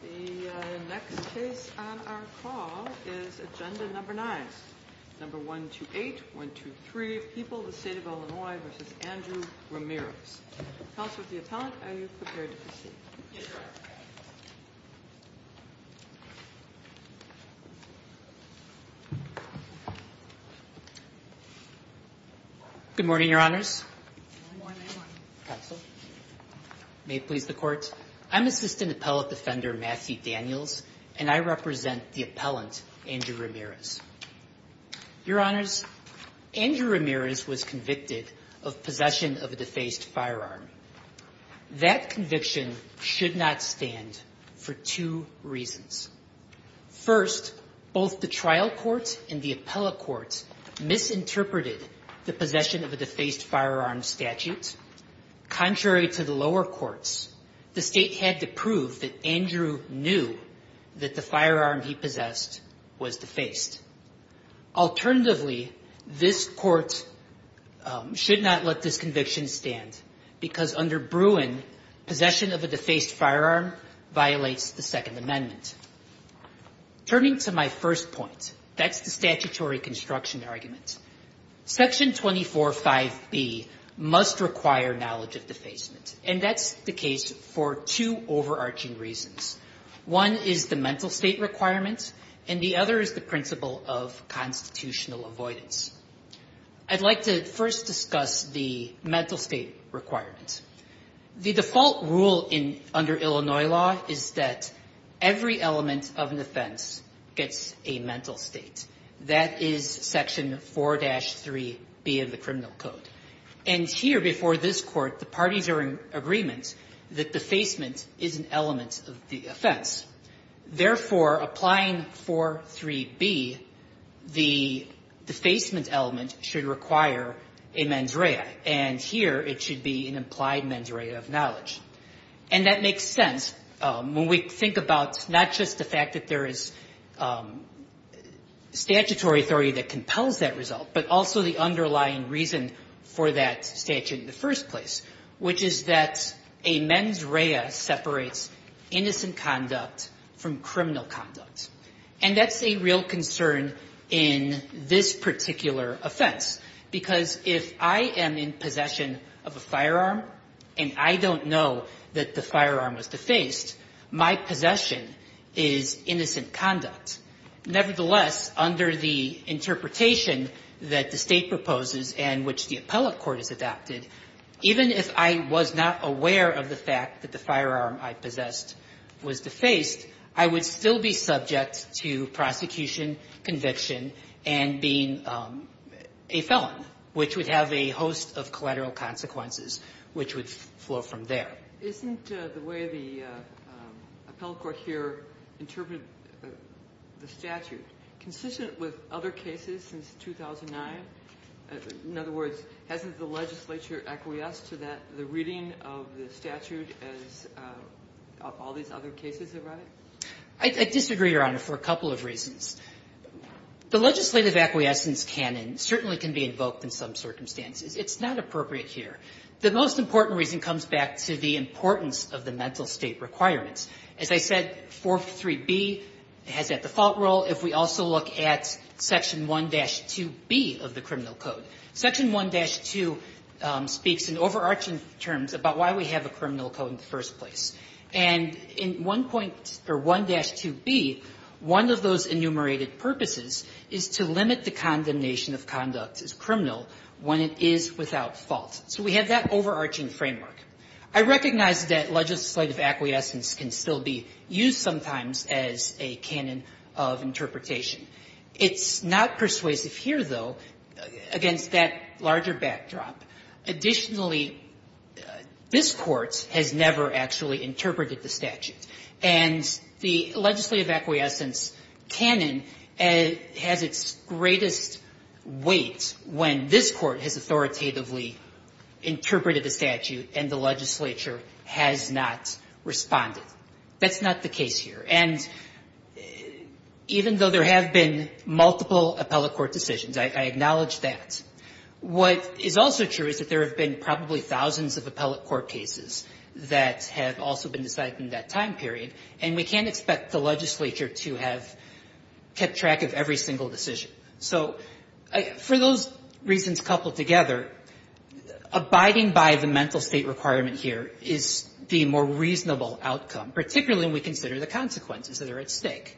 The next case on our call is Agenda Number 9, Number 128123, People, the State of Illinois v. Andrew Ramirez. Counselor to the Appellant, are you prepared to proceed? Yes, Your Honor. Good morning, Your Honors. Good morning, Your Honor. Counsel. May it please the Court. I'm Assistant Appellant Defender Matthew Daniels, and I represent the Appellant, Andrew Ramirez. Your Honors, Andrew Ramirez was convicted of possession of a defaced firearm. That conviction should not stand for two reasons. First, both the trial court and the appellate court misinterpreted the possession of a defaced firearm statute. Contrary to the lower courts, the state had to prove that Andrew knew that the firearm he possessed was defaced. Alternatively, this court should not let this conviction stand because under Bruin, possession of a defaced firearm violates the Second Amendment. Turning to my first point, that's the statutory construction argument. Section 245B must require knowledge of defacement, and that's the case for two overarching reasons. One is the mental state requirements, and the other is the principle of constitutional avoidance. I'd like to first discuss the mental state requirements. The default rule under Illinois law is that every element of an offense gets a mental state. That is Section 4-3B of the Criminal Code. And here before this Court, the parties are in agreement that defacement is an element of the offense. Therefore, applying 4-3B, the defacement element should require a mens rea. And here it should be an implied mens rea of knowledge. And that makes sense when we think about not just the fact that there is statutory authority that compels that result, but also the underlying reason for that statute in the first place, which is that a mens rea separates innocent conduct from criminal conduct. And that's a real concern in this particular offense, because if I am in possession of a firearm and I don't know that the firearm was defaced, my possession is innocent conduct. Nevertheless, under the interpretation that the State proposes and which the appellate court has adopted, even if I was not aware of the fact that the firearm I possessed was defaced, I would still be subject to prosecution, conviction, and being a felon, which would have a host of collateral consequences, which would flow from there. Sotomayor, isn't the way the appellate court here interpreted the statute consistent with other cases since 2009? In other words, hasn't the legislature acquiesced to that, the reading of the statute as all these other cases have read it? I disagree, Your Honor, for a couple of reasons. The legislative acquiescence canon certainly can be invoked in some circumstances. It's not appropriate here. The most important reason comes back to the importance of the mental state requirements. As I said, 43B has that default rule. If we also look at Section 1-2B of the criminal code, Section 1-2 speaks in overarching terms about why we have a criminal code in the first place. And in 1. or 1-2B, one of those enumerated purposes is to limit the condemnation of conduct as criminal when it is without fault. So we have that overarching framework. I recognize that legislative acquiescence can still be used sometimes as a canon of interpretation. It's not persuasive here, though, against that larger backdrop. Additionally, this Court has never actually interpreted the statute. And the legislative acquiescence canon has its greatest weight when this Court has authoritatively interpreted the statute and the legislature has not responded. That's not the case here. And even though there have been multiple appellate court decisions, I acknowledge that, what is also true is that there have been probably thousands of appellate court cases that have also been decided in that time period, and we can't expect the legislature to have kept track of every single decision. So for those reasons coupled together, abiding by the mental state requirement here is the more reasonable outcome, particularly when we consider the consequences that are at stake.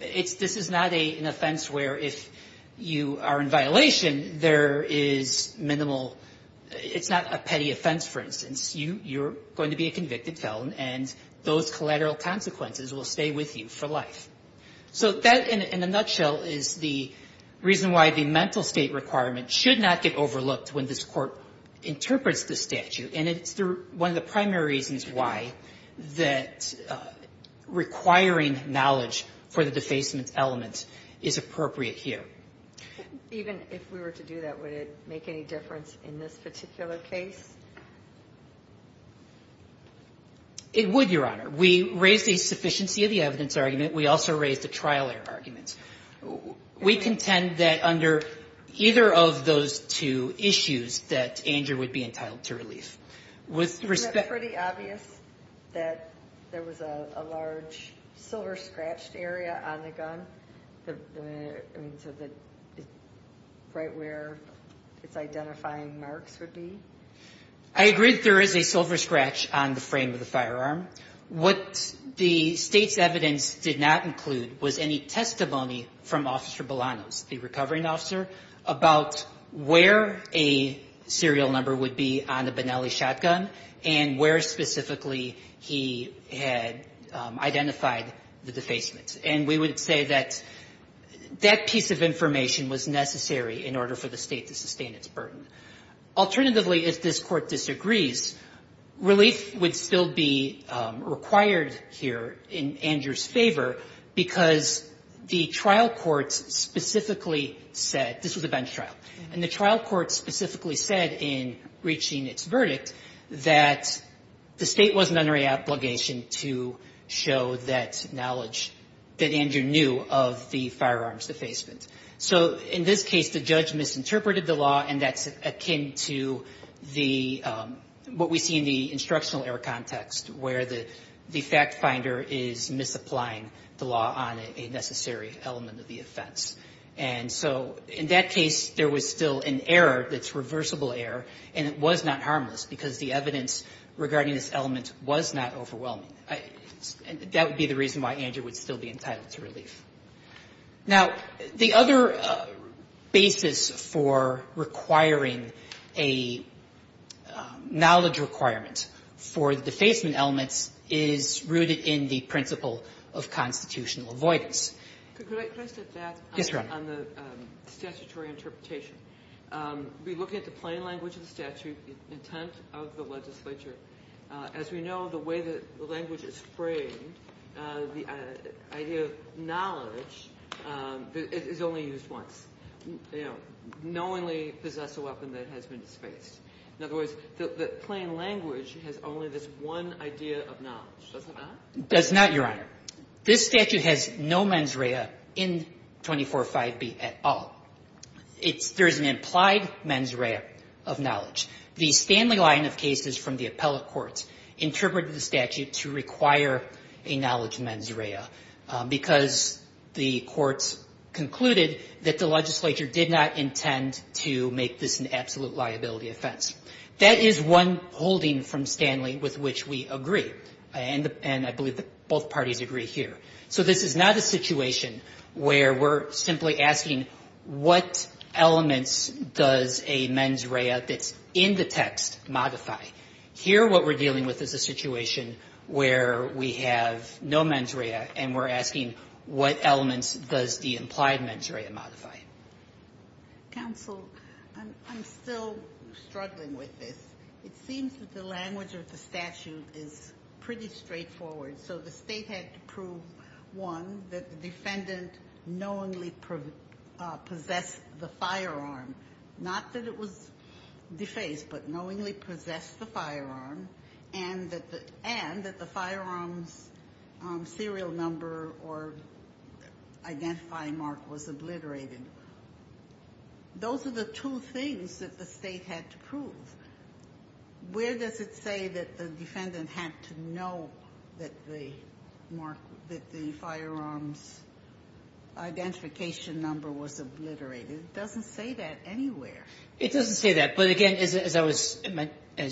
This is not an offense where if you are in violation, there is minimal – it's not a petty offense, for instance. You're going to be a convicted felon, and those collateral consequences will stay with you for life. So that, in a nutshell, is the reason why the mental state requirement should not get overlooked when this Court interprets the statute. And it's one of the primary reasons why that requiring knowledge for the defacement element is appropriate here. Even if we were to do that, would it make any difference in this particular case? It would, Your Honor. We raised a sufficiency of the evidence argument. We also raised a trial error argument. We contend that under either of those two issues that Andrew would be entitled to relief. Isn't it pretty obvious that there was a large silver-scratched area on the gun? Right where its identifying marks would be? I agree that there is a silver scratch on the frame of the firearm. What the State's evidence did not include was any testimony from Officer Belanos, the recovering officer, about where a serial number would be on the Benelli shotgun and where specifically he had identified the defacement. And we would say that that piece of information was necessary in order for the State to sustain its burden. Alternatively, if this Court disagrees, relief would still be required here in Andrew's favor because the trial courts specifically said this was a bench trial. And the trial courts specifically said in reaching its verdict that the State wasn't under any obligation to show that knowledge that Andrew knew of the firearms defacement. So in this case, the judge misinterpreted the law, and that's akin to what we see in the instructional error context where the fact-finder is misapplying the law on a necessary element of the offense. And so in that case, there was still an error that's reversible error, and it was not harmless because the evidence regarding this element was not overwhelming. That would be the reason why Andrew would still be entitled to relief. Now, the other basis for requiring a knowledge requirement for the defacement elements is rooted in the principle of constitutional avoidance. Ginsburg. Could I just add that? Yes, Your Honor. On the statutory interpretation. We look at the plain language of the statute, the intent of the legislature. As we know, the way that the language is framed, the idea of knowledge is only used once, you know, knowingly possess a weapon that has been disposed. In other words, the plain language has only this one idea of knowledge. Does it not? It does not, Your Honor. This statute has no mens rea in 245B at all. It's – there is an implied mens rea of knowledge. The Stanley line of cases from the appellate courts interpreted the statute to require a knowledge mens rea because the courts concluded that the legislature did not intend to make this an absolute liability offense. That is one holding from Stanley with which we agree. And I believe that both parties agree here. So this is not a situation where we're simply asking what elements does a mens rea that's in the text modify. Here what we're dealing with is a situation where we have no mens rea and we're asking what elements does the implied mens rea modify. Counsel, I'm still struggling with this. It seems that the language of the statute is pretty straightforward. So the state had to prove, one, that the defendant knowingly possessed the firearm, not that it was defaced, but knowingly possessed the firearm, and that the firearm's serial number or identifying mark was obliterated. Those are the two things that the state had to prove. Where does it say that the defendant had to know that the mark, that the firearm's identification number was obliterated? It doesn't say that anywhere. It doesn't say that. But again, as I was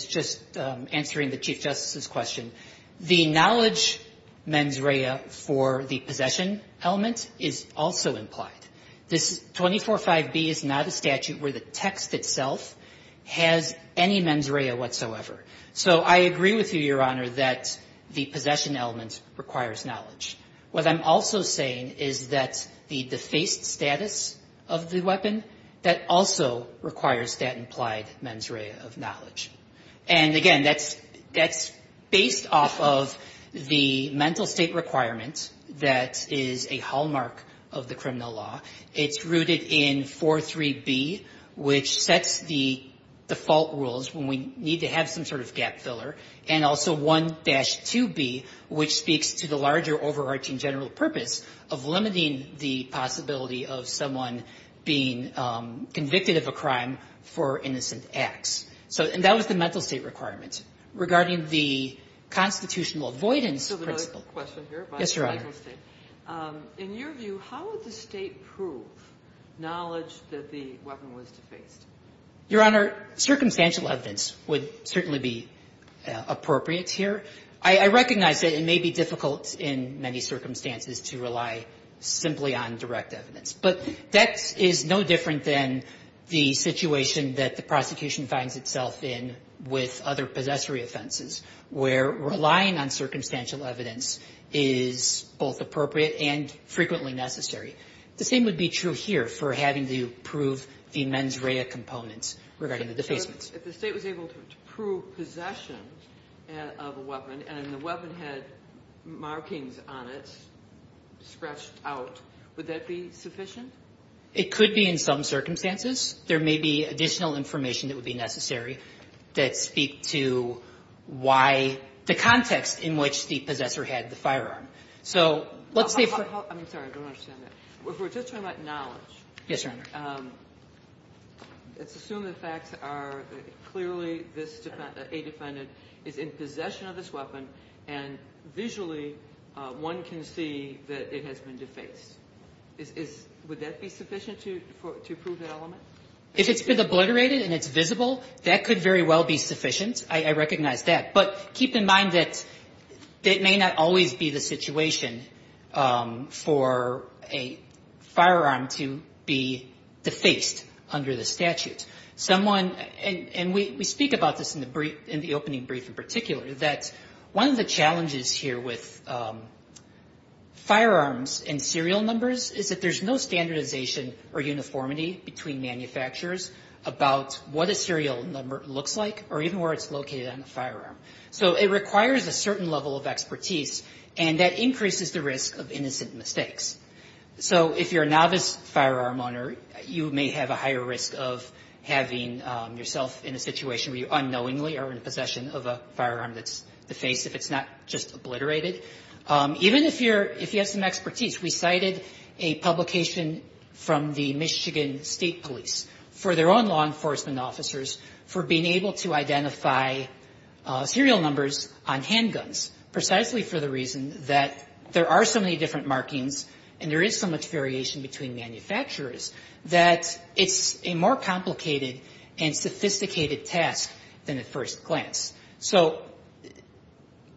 just answering the Chief Justice's question, the knowledge mens rea for the possession element is also implied. This 24.5b is not a statute where the text itself has any mens rea whatsoever. So I agree with you, Your Honor, that the possession element requires knowledge. What I'm also saying is that the defaced status of the weapon, that also requires that implied mens rea of knowledge. And again, that's based off of the mental state requirement that is a hallmark of the criminal law. It's rooted in 4.3b, which sets the default rules when we need to have some sort of gap filler, and also 1-2b, which speaks to the larger overarching general purpose of limiting the possibility of someone being convicted of a crime for innocent acts. So that was the mental state requirement. Regarding the constitutional avoidance principle. Yes, Your Honor. In your view, how would the State prove knowledge that the weapon was defaced? Your Honor, circumstantial evidence would certainly be appropriate here. I recognize that it may be difficult in many circumstances to rely simply on direct evidence, but that is no different than the situation that the prosecution finds itself in with other possessory offenses, where relying on circumstantial evidence is both appropriate and frequently necessary. The same would be true here for having to prove the mens rea components regarding the defacements. If the State was able to prove possession of a weapon and the weapon had markings on it, scratched out, would that be sufficient? It could be in some circumstances. There may be additional information that would be necessary that speak to why the context in which the possessor had the firearm. So let's say for the... I'm sorry. I don't understand that. If we're just talking about knowledge... Yes, Your Honor. ...let's assume the facts are clearly this defendant, a defendant, is in possession of this weapon, and visually one can see that it has been defaced. Would that be sufficient to prove that element? If it's been obliterated and it's visible, that could very well be sufficient. I recognize that. But keep in mind that it may not always be the situation for a firearm to be defaced under the statute. Someone... And we speak about this in the opening brief in particular, that one of the challenges here with firearms and serial numbers is that there's no standardization or uniformity between manufacturers about what a serial number looks like or even where it's located on the firearm. So it requires a certain level of expertise, and that increases the risk of innocent mistakes. So if you're a novice firearm owner, you may have a higher risk of having yourself in a situation where you unknowingly are in possession of a firearm that's defaced if it's not just obliterated. Even if you're... If you have some expertise, we cited a publication from the Michigan State Police for their own law enforcement officers for being able to identify serial numbers on handguns precisely for the reason that there are so many different markings and there is so much variation between manufacturers that it's a more complicated and sophisticated task than at first glance. So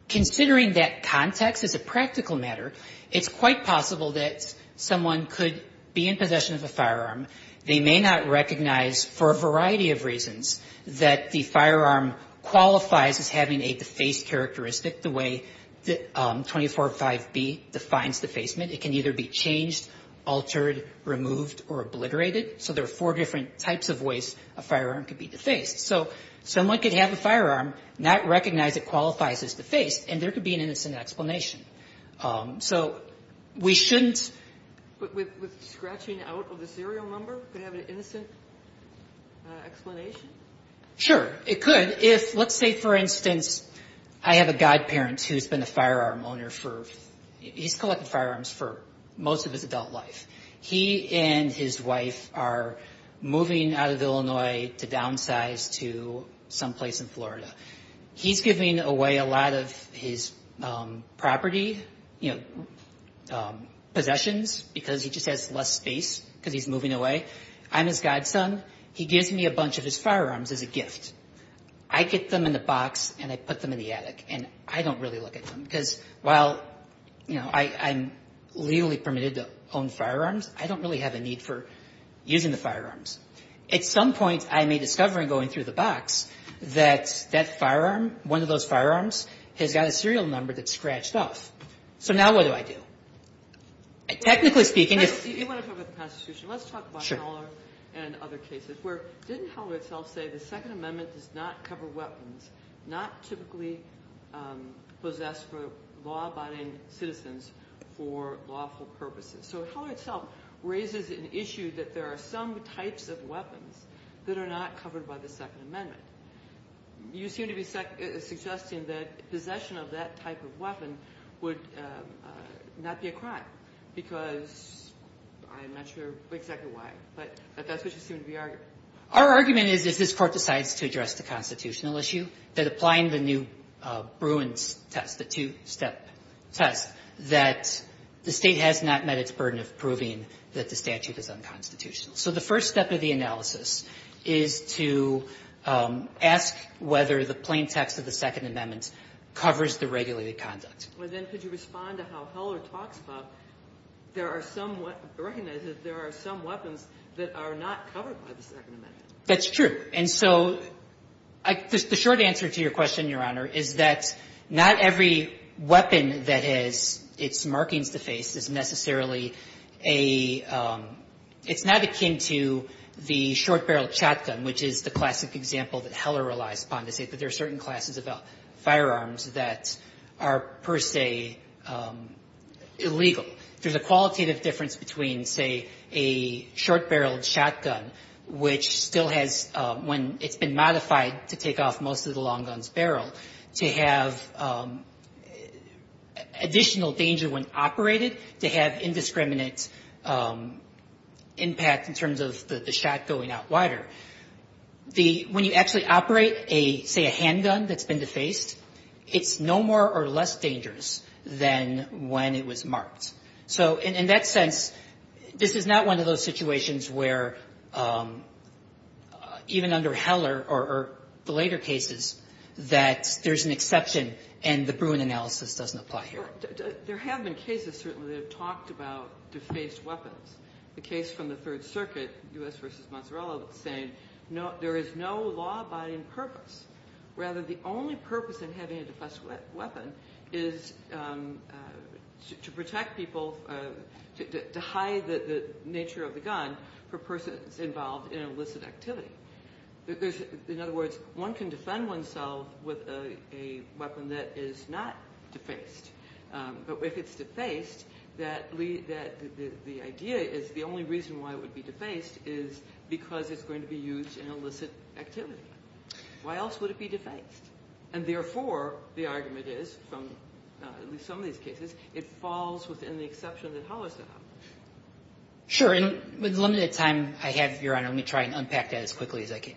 considering that context as a practical matter, it's quite possible that someone could be in possession of a firearm. They may not recognize for a variety of reasons that the firearm qualifies as having a defaced characteristic the way 24.5b defines defacement. It can either be changed, altered, removed, or obliterated. So there are four different types of ways a firearm could be defaced. So someone could have a firearm, not recognize it qualifies as defaced, and there could be an innocent explanation. So we shouldn't... A serial number could have an innocent explanation? Sure, it could. Let's say, for instance, I have a godparent who's been a firearm owner for... He's collected firearms for most of his adult life. He and his wife are moving out of Illinois to downsize to someplace in Florida. He's giving away a lot of his property, possessions, because he just has less space because he's moving away. I'm his godson. He gives me a bunch of his firearms as a gift. I get them in a box and I put them in the attic, and I don't really look at them because while, you know, I'm legally permitted to own firearms, I don't really have a need for using the firearms. At some point, I may discover in going through the box that that firearm, one of those firearms has got a serial number that's scratched off. So now what do I do? Technically speaking... You want to talk about the Constitution. Let's talk about Heller and other cases. Didn't Heller itself say the Second Amendment does not cover weapons, not typically possessed for law-abiding citizens for lawful purposes? So Heller itself raises an issue that there are some types of weapons that are not covered by the Second Amendment. You seem to be suggesting that possession of that type of weapon would not be a crime because I'm not sure exactly why, but that's what you seem to be arguing. Our argument is if this Court decides to address the constitutional issue, that applying the new Bruins test, the two-step test, that the state has not met its burden of proving that the statute is unconstitutional. So the first step of the analysis is to ask whether the plain text of the Second Amendment covers the regulated conduct. Well, then could you respond to how Heller talks about there are some weapons recognized that there are some weapons that are not covered by the Second Amendment? That's true. And so the short answer to your question, Your Honor, is that not every weapon that has its markings defaced is necessarily a – it's not akin to the short-barreled shotgun, which is the classic example that Heller relies upon to say that there are certain classes of firearms that are, per se, illegal. There's a qualitative difference between, say, a short-barreled shotgun, which still has – when it's been modified to take off most of the long gun's barrel, to have additional danger when operated, to have indiscriminate impact in terms of the shot going out wider. The – when you actually operate a – say, a handgun that's been defaced, it's no more or less dangerous than when it was marked. So in that sense, this is not one of those situations where even under Heller or the greater cases that there's an exception and the Bruin analysis doesn't apply here. There have been cases, certainly, that have talked about defaced weapons. The case from the Third Circuit, U.S. v. Mazzarella, saying there is no law abiding purpose. Rather, the only purpose in having a defaced weapon is to protect people – to hide the nature of the gun for persons involved in illicit activity. There's – in other words, one can defend oneself with a weapon that is not defaced. But if it's defaced, that – the idea is the only reason why it would be defaced is because it's going to be used in illicit activity. Why else would it be defaced? And therefore, the argument is, from at least some of these cases, it falls within the exception that Heller's done. Sure. In the limited time I have, Your Honor, let me try and unpack that as quickly as I can.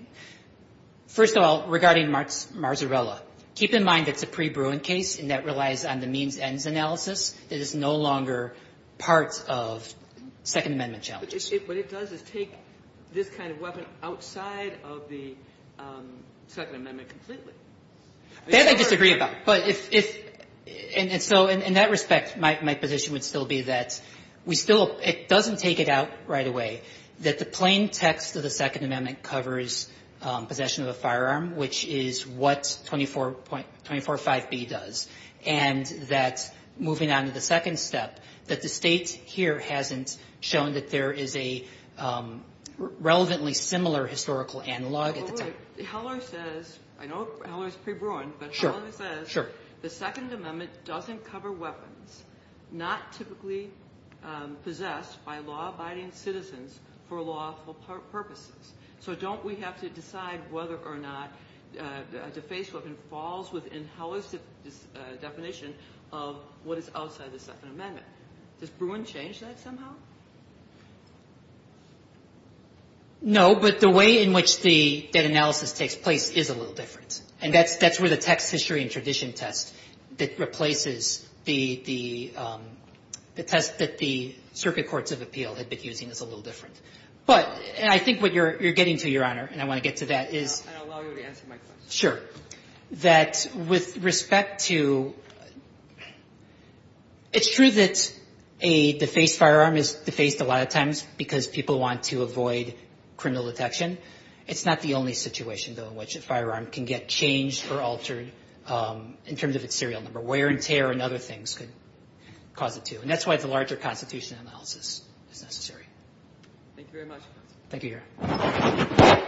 First of all, regarding Mazzarella, keep in mind it's a pre-Bruin case, and that relies on the means-ends analysis. It is no longer part of Second Amendment challenges. What it does is take this kind of weapon outside of the Second Amendment completely. That I disagree about. But if – and so in that respect, my position would still be that we still – it doesn't take it out right away that the plain text of the Second Amendment covers possession of a firearm, which is what 24.5b does, and that moving on to the second step, that the State here hasn't shown that there is a relevantly similar historical analog at the time. But Heller says – I know Heller is pre-Bruin, but Heller says the Second Amendment doesn't cover weapons not typically possessed by law-abiding citizens for lawful purposes. So don't we have to decide whether or not a defaced weapon falls within Heller's definition of what is outside the Second Amendment? Does Bruin change that somehow? No, but the way in which the analysis takes place is a little different. And that's where the text history and tradition test that replaces the test that the Circuit Courts of Appeal had been using is a little different. But – and I think what you're getting to, Your Honor, and I want to get to that is – I'll allow you to answer my question. Sure. That with respect to – it's true that a defaced firearm is defaced a lot of times because people want to avoid criminal detection. It's not the only situation, though, in which a firearm can get changed or altered in terms of its serial number. Wear and tear and other things could cause it to. And that's why the larger constitutional analysis is necessary. Thank you very much. Thank you, Your Honor. Thank you.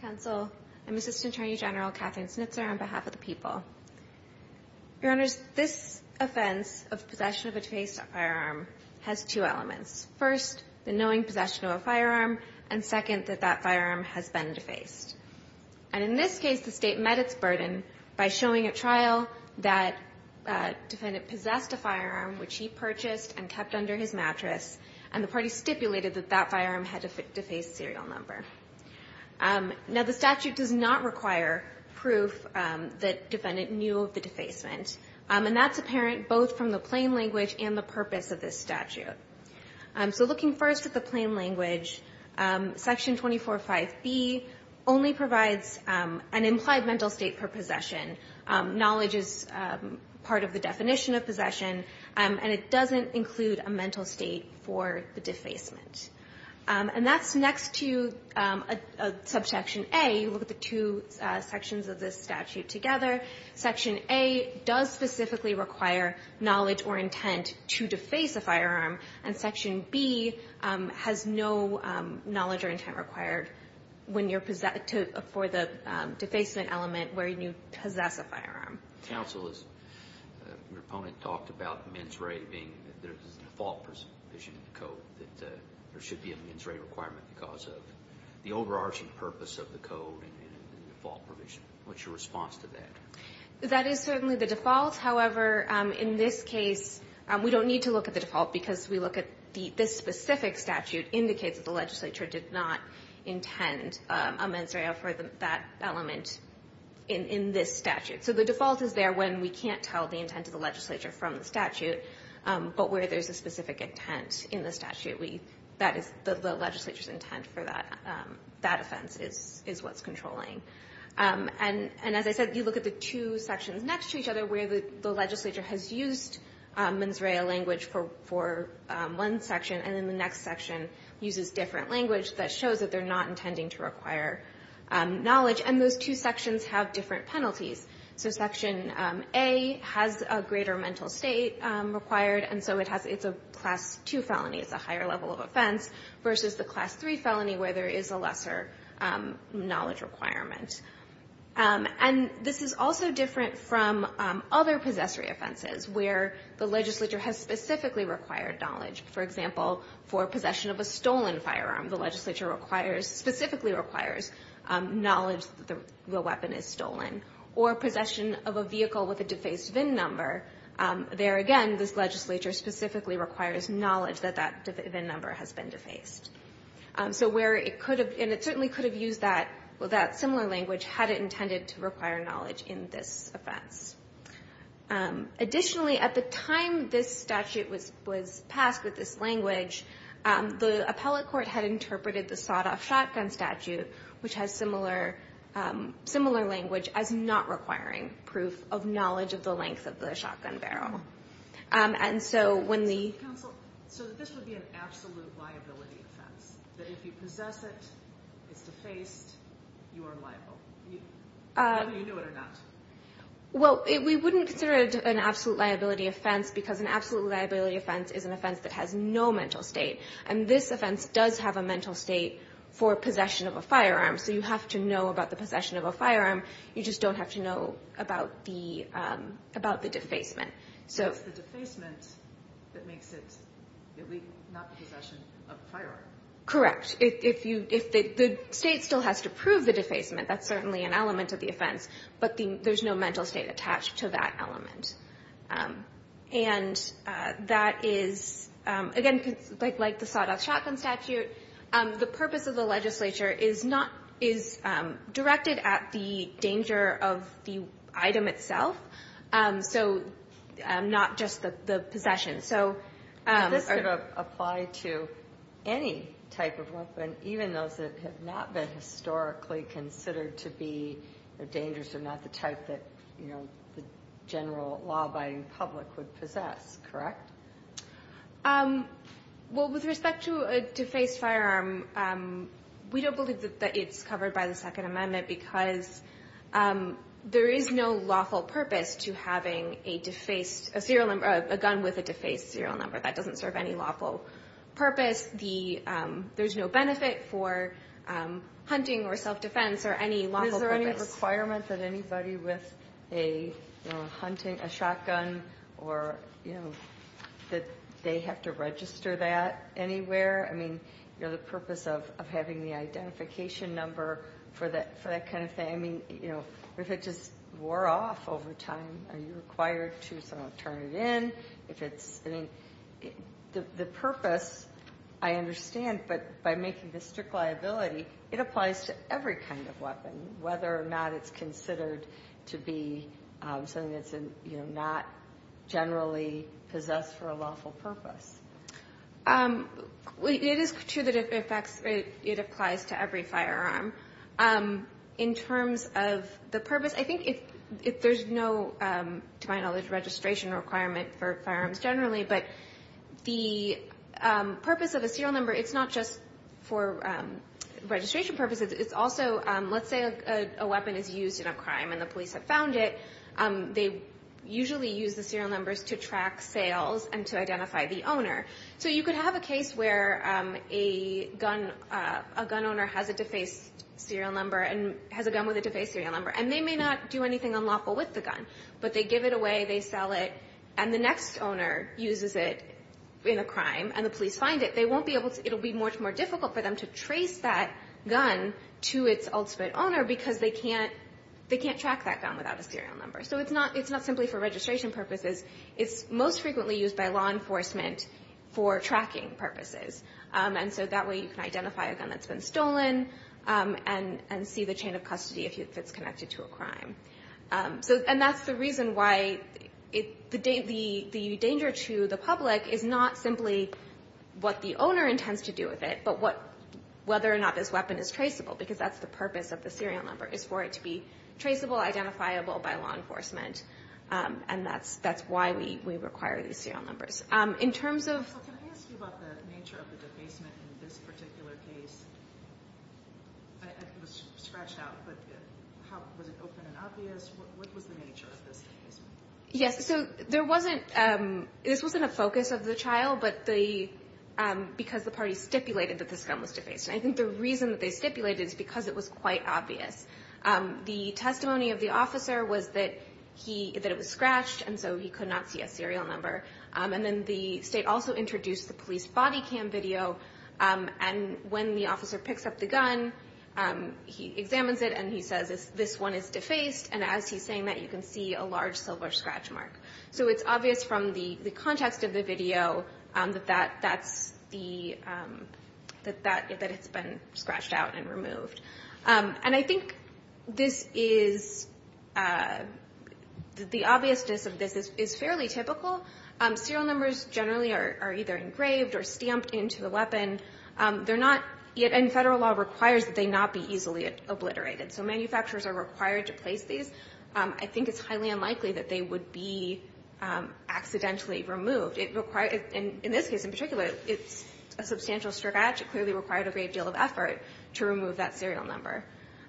Counsel, I'm Assistant Attorney General Katherine Snitzer on behalf of the people. Your Honors, this offense of possession of a defaced firearm has two elements. First, the knowing possession of a firearm, and second, that that firearm has been defaced. And in this case, the State met its burden by showing at trial that a defendant possessed a firearm which he purchased and kept under his mattress, and the party stipulated that that firearm had a defaced serial number. Now, the statute does not require proof that defendant knew of the defacement, and that's apparent both from the plain language and the purpose of this statute. So looking first at the plain language, Section 245B only provides an implied mental state for possession. Knowledge is part of the definition of possession, and it doesn't include a mental state for the defacement. And that's next to Subsection A. You look at the two sections of this statute together. Section A does specifically require knowledge or intent to deface a firearm, and Section B has no knowledge or intent required for the defacement element where you possess a firearm. Counsel, as your opponent talked about mens rea being that there's a default provision in the Code that there should be a mens rea requirement because of the overarching purpose of the Code and the default provision. What's your response to that? That is certainly the default. However, in this case, we don't need to look at the default because we look at this specific statute indicates that the legislature did not intend a mens rea for that element in this statute. So the default is there when we can't tell the intent of the legislature from the statute, but where there's a specific intent in the statute, that is the legislature's intent for that offense is what's controlling. And as I said, you look at the two sections next to each other where the legislature has used mens rea language for one section, and then the next section uses different language that shows that they're not intending to require knowledge. And those two sections have different penalties. So Section A has a greater mental state required, and so it's a Class 2 felony. It's a higher level of offense versus the Class 3 felony where there is a lesser knowledge requirement. And this is also different from other possessory offenses where the legislature has specifically required knowledge. For example, for possession of a stolen firearm, the legislature requires specifically requires knowledge that the weapon is stolen. Or possession of a vehicle with a defaced VIN number, there again, this legislature specifically requires knowledge that that VIN number has been defaced. And it certainly could have used that similar language had it intended to require knowledge in this offense. Additionally, at the time this statute was passed with this language, the appellate court had interpreted the sawed-off shotgun statute, which has similar language, as not requiring proof of knowledge of the length of the shotgun barrel. And so when the... Counsel, so this would be an absolute liability offense, that if you possess it, it's defaced, you are liable, whether you knew it or not. Well, we wouldn't consider it an absolute liability offense because an absolute liability offense is an offense that has no mental state. And this offense does have a mental state for possession of a firearm. So you have to know about the possession of a firearm. You just don't have to know about the defacement. So it's the defacement that makes it illegal, not the possession of a firearm. Correct. If the state still has to prove the defacement, that's certainly an element of the offense. But there's no mental state attached to that element. And that is, again, like the sawed-off shotgun statute, the purpose of the legislature is directed at the danger of the item itself, so not just the possession. But this could apply to any type of weapon, even those that have not been historically considered to be dangerous or not the type that the general law-abiding public would possess. Correct? Well, with respect to a defaced firearm, we don't believe that it's covered by the Second Amendment because there is no lawful purpose to having a gun with a defaced serial number. That doesn't serve any lawful purpose. There's no benefit for hunting or self-defense or any lawful purpose. But is there any requirement that anybody with a shotgun or, you know, that they have to register that anywhere? I mean, you know, the purpose of having the identification number for that kind of thing. I mean, you know, if it just wore off over time, are you required to turn it in? The purpose, I understand, but by making this strict liability, it applies to every kind of weapon, whether or not it's considered to be something that's not generally possessed for a lawful purpose. It is true that it applies to every firearm. In terms of the purpose, I think there's no, to my knowledge, registration requirement for firearms generally, but the purpose of a serial number, it's not just for registration purposes. It's also, let's say a weapon is used in a crime and the police have found it. They usually use the serial numbers to track sales and to identify the owner. So you could have a case where a gun owner has a defaced serial number and has a gun with a defaced serial number, and they may not do anything unlawful with the gun, but they give it away, they sell it, and the next owner uses it in a crime and the police find it. It will be much more difficult for them to trace that gun to its ultimate owner because they can't track that gun without a serial number. So it's not simply for registration purposes. It's most frequently used by law enforcement for tracking purposes, and so that way you can identify a gun that's been stolen And that's the reason why the danger to the public is not simply what the owner intends to do with it, but whether or not this weapon is traceable, because that's the purpose of the serial number, is for it to be traceable, identifiable by law enforcement, and that's why we require these serial numbers. Can I ask you about the nature of the defacement in this particular case? It was scratched out, but was it open and obvious? What was the nature of this case? Yes, so this wasn't a focus of the trial, but because the party stipulated that this gun was defaced. I think the reason that they stipulated it is because it was quite obvious. The testimony of the officer was that it was scratched, and so he could not see a serial number. And then the state also introduced the police body cam video, and when the officer picks up the gun, he examines it, and he says this one is defaced, and as he's saying that you can see a large silver scratch mark. So it's obvious from the context of the video that it's been scratched out and removed. And I think the obviousness of this is fairly typical, serial numbers generally are either engraved or stamped into the weapon. They're not, and Federal law requires that they not be easily obliterated. So manufacturers are required to place these. I think it's highly unlikely that they would be accidentally removed. In this case in particular, it's a substantial scratch. It clearly required a great deal of effort to remove that serial number.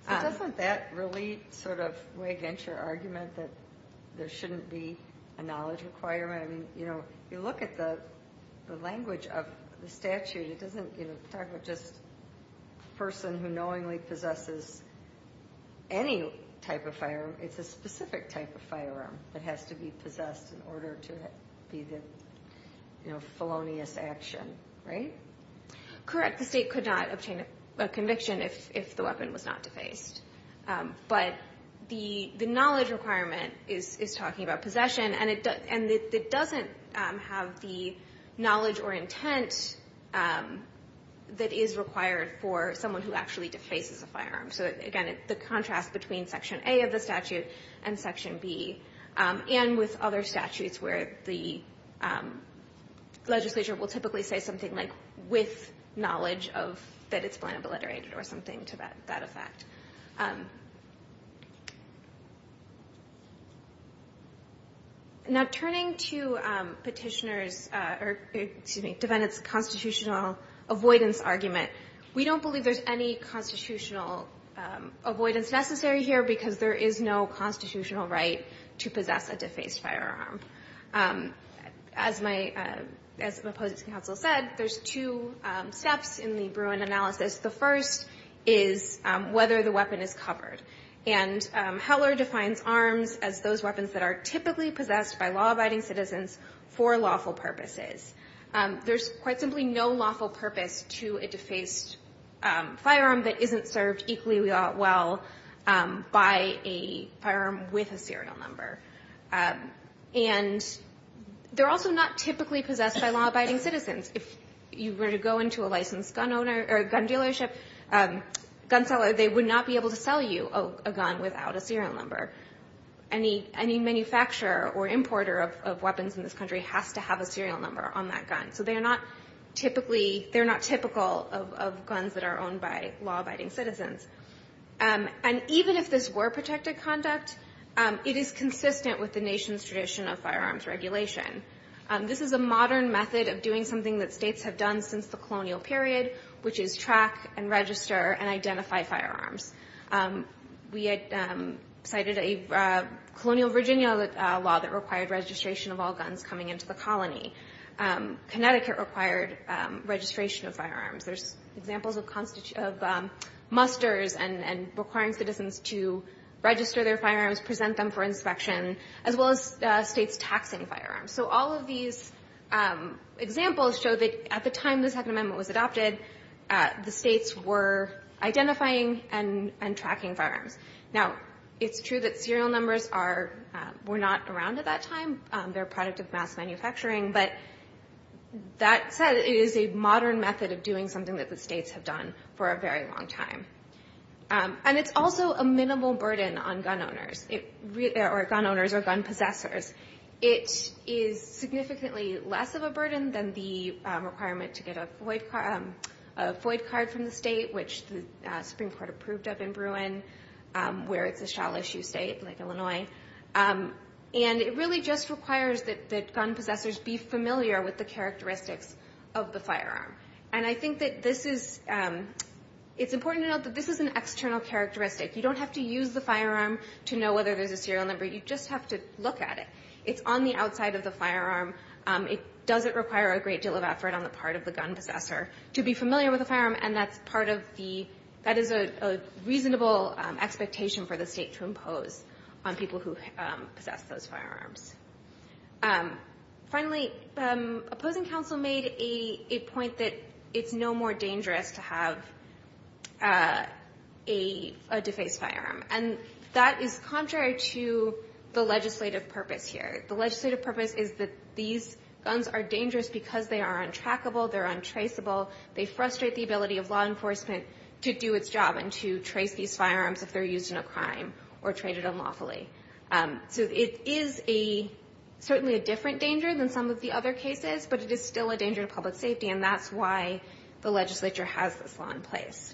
So doesn't that really sort of weigh against your argument that there shouldn't be a knowledge requirement? I mean, you look at the language of the statute. It doesn't talk about just a person who knowingly possesses any type of firearm. It's a specific type of firearm that has to be possessed in order to be the felonious action, right? Correct. The state could not obtain a conviction if the weapon was not defaced. But the knowledge requirement is talking about possession, and it doesn't have the knowledge or intent that is required for someone who actually defaces a firearm. So, again, the contrast between Section A of the statute and Section B, and with other statutes where the legislature will typically say something like with knowledge that it's blatantly obliterated or something to that effect. Now, turning to Petitioner's or, excuse me, Defendant's constitutional avoidance argument, we don't believe there's any constitutional avoidance necessary here because there is no constitutional right to possess a defaced firearm. As my opposing counsel said, there's two steps in the Bruin analysis. The first is whether the weapon is covered. And Heller defines arms as those weapons that are typically possessed by law-abiding citizens for lawful purposes. There's quite simply no lawful purpose to a defaced firearm that isn't served equally well by a firearm with a serial number. And they're also not typically possessed by law-abiding citizens. If you were to go into a licensed gun dealership, gun seller, they would not be able to sell you a gun without a serial number. Any manufacturer or importer of weapons in this country has to have a serial number on that gun. So they're not typical of guns that are owned by law-abiding citizens. And even if this were protected conduct, it is consistent with the nation's tradition of firearms regulation. This is a modern method of doing something that states have done since the colonial period, which is track and register and identify firearms. We had cited a colonial Virginia law that required registration of all guns coming into the colony. Connecticut required registration of firearms. There's examples of musters and requiring citizens to register their firearms, present them for inspection, as well as states taxing firearms. So all of these examples show that at the time the Second Amendment was adopted, the states were identifying and tracking firearms. Now, it's true that serial numbers were not around at that time. They're a product of mass manufacturing. But that said, it is a modern method of doing something that the states have done for a very long time. And it's also a minimal burden on gun owners or gun possessors. It is significantly less of a burden than the requirement to get a FOID card from the state, which the Supreme Court approved of in Bruin, where it's a shallow-issue state like Illinois. And it really just requires that gun possessors be familiar with the characteristics of the firearm. And I think that this is an external characteristic. You don't have to use the firearm to know whether there's a serial number. You just have to look at it. It's on the outside of the firearm. It doesn't require a great deal of effort on the part of the gun possessor to be familiar with the firearm, and that is a reasonable expectation for the state to impose on people who possess those firearms. Finally, opposing counsel made a point that it's no more dangerous to have a defaced firearm. And that is contrary to the legislative purpose here. The legislative purpose is that these guns are dangerous because they are untrackable, they're untraceable, they frustrate the ability of law enforcement to do its job and to trace these firearms if they're used in a crime or traded unlawfully. So it is certainly a different danger than some of the other cases, but it is still a danger to public safety, and that's why the legislature has this law in place.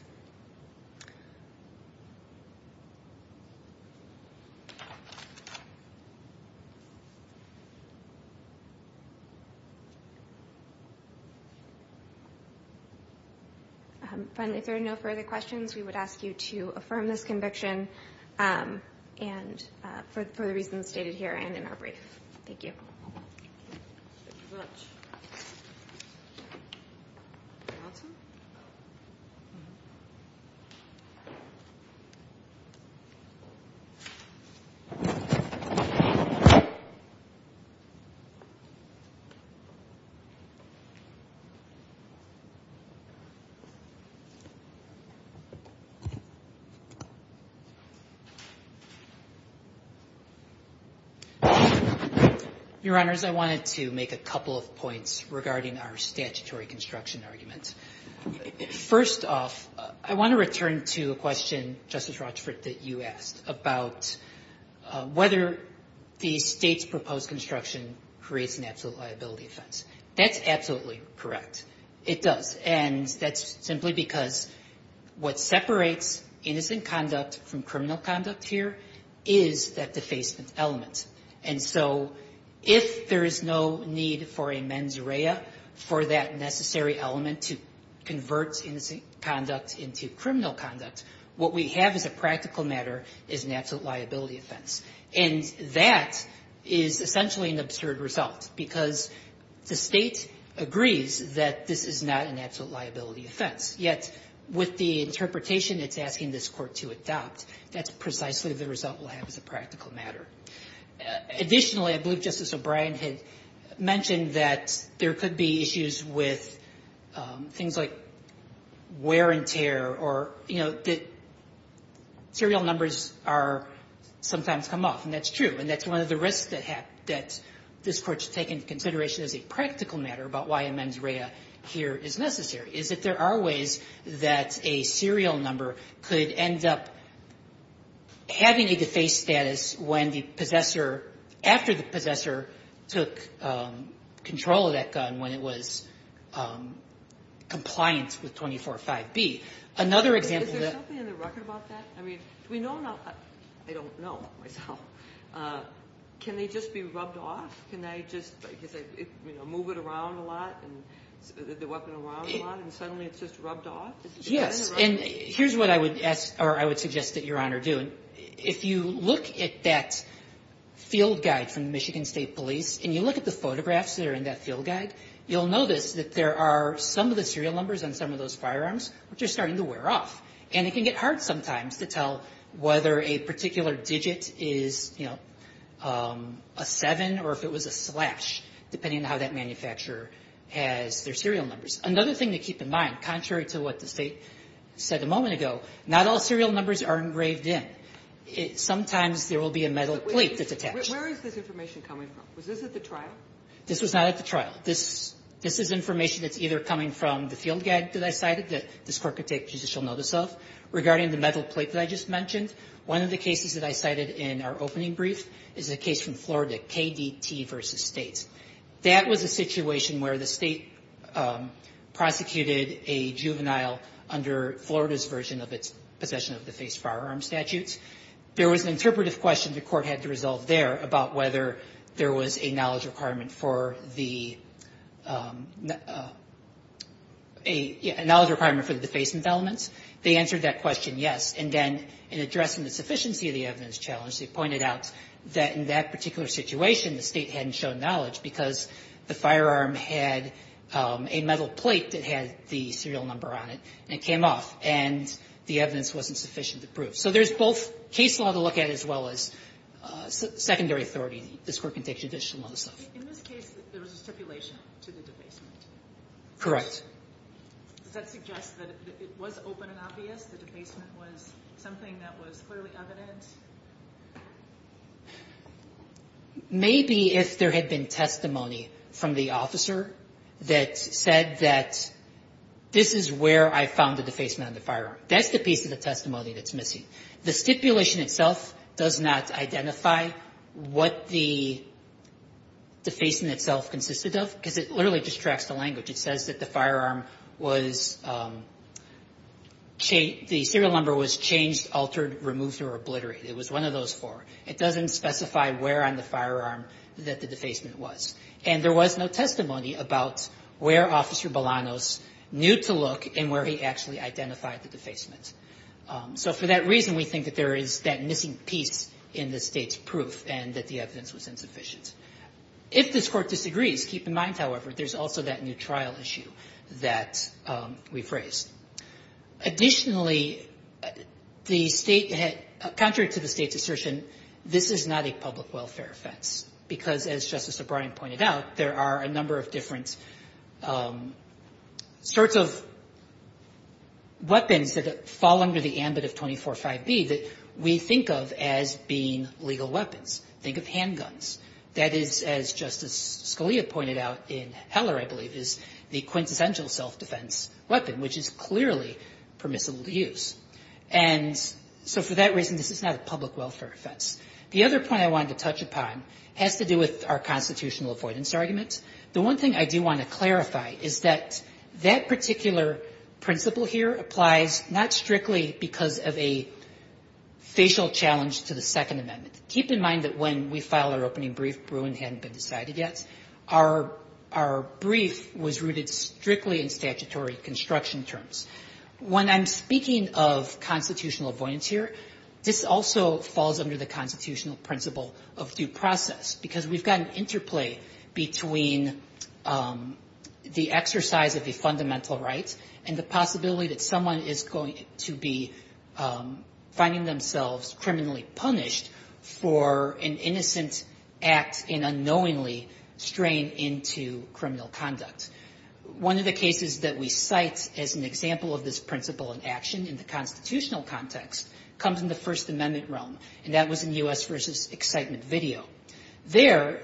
Finally, if there are no further questions, we would ask you to affirm this conviction for the reasons stated here and in our brief. Thank you. Thank you very much. Your Honors, I wanted to make a couple of points regarding our statutory construction argument. First off, I want to return to a question, Justice Rochford, that you asked about whether the state's proposed construction creates an absolute liability offense. That's absolutely correct. It does, and that's simply because what separates innocent conduct from criminal conduct here is that defacement element. And so if there is no need for a mens rea for that necessary element to convert innocent conduct into criminal conduct, what we have as a practical matter is an absolute liability offense. And that is essentially an absurd result, because the state agrees that this is not an absolute liability offense, yet with the interpretation it's asking this court to adopt, that's precisely the result we'll have as a practical matter. Additionally, I believe Justice O'Brien had mentioned that there could be issues with things like wear and tear or, you know, that serial numbers are sometimes come off. And that's true. And that's one of the risks that this Court should take into consideration as a practical matter about why a mens rea here is necessary, is that there are ways that a serial number could end up having a defaced status when the possessor, after the possessor took control of that gun, when it was compliant with 24.5b. Another example that ---- Is there something in the record about that? I mean, do we know now? I don't know myself. Can they just be rubbed off? Can they just, you know, move it around a lot, the weapon around a lot? And suddenly it's just rubbed off? Yes. And here's what I would ask or I would suggest that Your Honor do. If you look at that field guide from the Michigan State Police, and you look at the photographs that are in that field guide, you'll notice that there are some of the serial numbers on some of those firearms which are starting to wear off. And it can get hard sometimes to tell whether a particular digit is, you know, a seven or if it was a slash, depending on how that manufacturer has their serial numbers. Another thing to keep in mind, contrary to what the State said a moment ago, not all serial numbers are engraved in. Sometimes there will be a metal plate that's attached. Where is this information coming from? Was this at the trial? This was not at the trial. This is information that's either coming from the field guide that I cited that this Court could take judicial notice of regarding the metal plate that I just mentioned. One of the cases that I cited in our opening brief is a case from Florida, KDT v. States. That was a situation where the State prosecuted a juvenile under Florida's version of its possession of defaced firearm statutes. There was an interpretive question the Court had to resolve there about whether there was a knowledge requirement for the defacement elements. They answered that question yes. And then in addressing the sufficiency of the evidence challenge, they pointed out that in that particular situation the State hadn't shown knowledge because the firearm had a metal plate that had the serial number on it, and it came off, and the evidence wasn't sufficient to prove. So there's both case law to look at as well as secondary authority. This Court can take judicial notice of. In this case, there was a stipulation to the defacement. Correct. Does that suggest that it was open and obvious that the defacement was something that was clearly evident? Maybe if there had been testimony from the officer that said that this is where I found the defacement on the firearm. That's the piece of the testimony that's missing. The stipulation itself does not identify what the defacing itself consisted of because it literally distracts the language. It says that the firearm was the serial number was changed, altered, removed, or obliterated. It was one of those four. It doesn't specify where on the firearm that the defacement was. And there was no testimony about where Officer Balanos knew to look and where he actually identified the defacement. So for that reason, we think that there is that missing piece in the State's proof and that the evidence was insufficient. If this Court disagrees, keep in mind, however, there's also that new trial issue that we've raised. Additionally, the State had, contrary to the State's assertion, this is not a public welfare offense because, as Justice O'Brien pointed out, there are a number of different sorts of weapons that fall under the ambit of 24.5b that we think of as being legal weapons. Think of handguns. That is, as Justice Scalia pointed out in Heller, I believe, is the quintessential self-defense weapon, which is clearly permissible to use. And so for that reason, this is not a public welfare offense. The other point I wanted to touch upon has to do with our constitutional avoidance argument. The one thing I do want to clarify is that that particular principle here applies not strictly because of a facial challenge to the Second Amendment. Keep in mind that when we filed our opening brief, Bruin hadn't been decided yet. Our brief was rooted strictly in statutory construction terms. When I'm speaking of constitutional avoidance here, this also falls under the constitutional principle of due process because we've got an interplay between the exercise of the fundamental rights and the possibility that someone is going to be finding themselves criminally punished for an innocent act in unknowingly straying into criminal conduct. One of the cases that we cite as an example of this principle in action in the constitutional context comes in the First Amendment realm, and that was in U.S. v. Excitement video. There,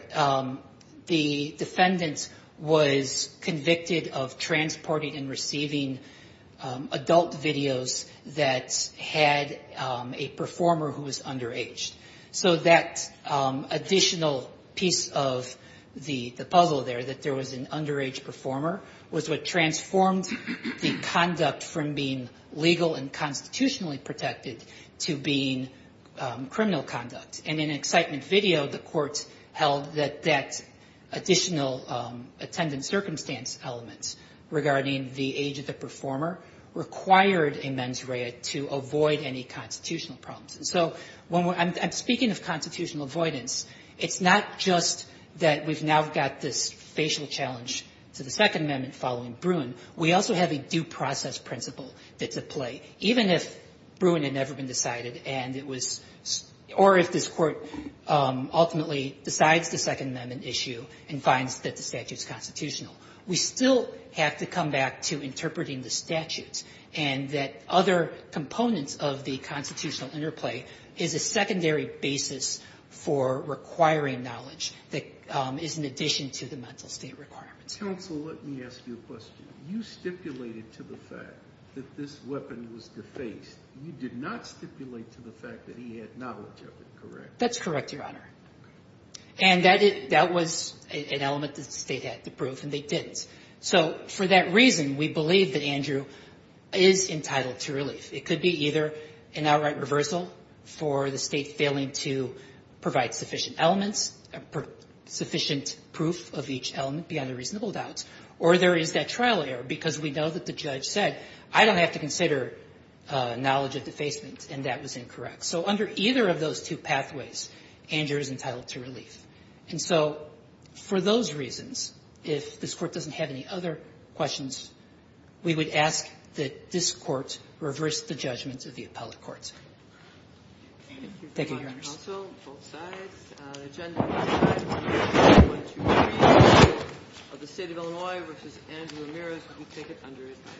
the defendant was convicted of transporting and receiving adult videos that had a performer who was underage. So that additional piece of the puzzle there, that there was an underage performer, was what transformed the conduct from being legal and constitutionally protected to being criminal conduct. And in Excitement video, the court held that that additional attendance circumstance element regarding the age of the performer required a mens rea to avoid any constitutional problems. And so when we're – I'm speaking of constitutional avoidance. It's not just that we've now got this facial challenge to the Second Amendment following Bruin. We also have a due process principle that's at play. Even if Bruin had never been decided and it was – or if this Court ultimately decides the Second Amendment issue and finds that the statute's constitutional, we still have to come back to interpreting the statutes and that other components of the constitutional interplay is a secondary basis for requiring knowledge that is in addition to the mental state requirements. Counsel, let me ask you a question. You stipulated to the fact that this weapon was defaced. You did not stipulate to the fact that he had knowledge of it, correct? That's correct, Your Honor. And that was an element that the State had to prove, and they didn't. So for that reason, we believe that Andrew is entitled to relief. It could be either an outright reversal for the State failing to provide sufficient elements – sufficient proof of each element beyond a reasonable doubt, or there is that trial error because we know that the judge said, I don't have to consider knowledge of defacement, and that was incorrect. So under either of those two pathways, Andrew is entitled to relief. And so for those reasons, if this Court doesn't have any other questions, we would ask that this Court reverse the judgments of the appellate courts. Thank you, Your Honors. Thank you, Counsel. Both sides. The agenda on this side is 1-2-3 of the State of Illinois v. Andrew Ramirez. We will take it under his name.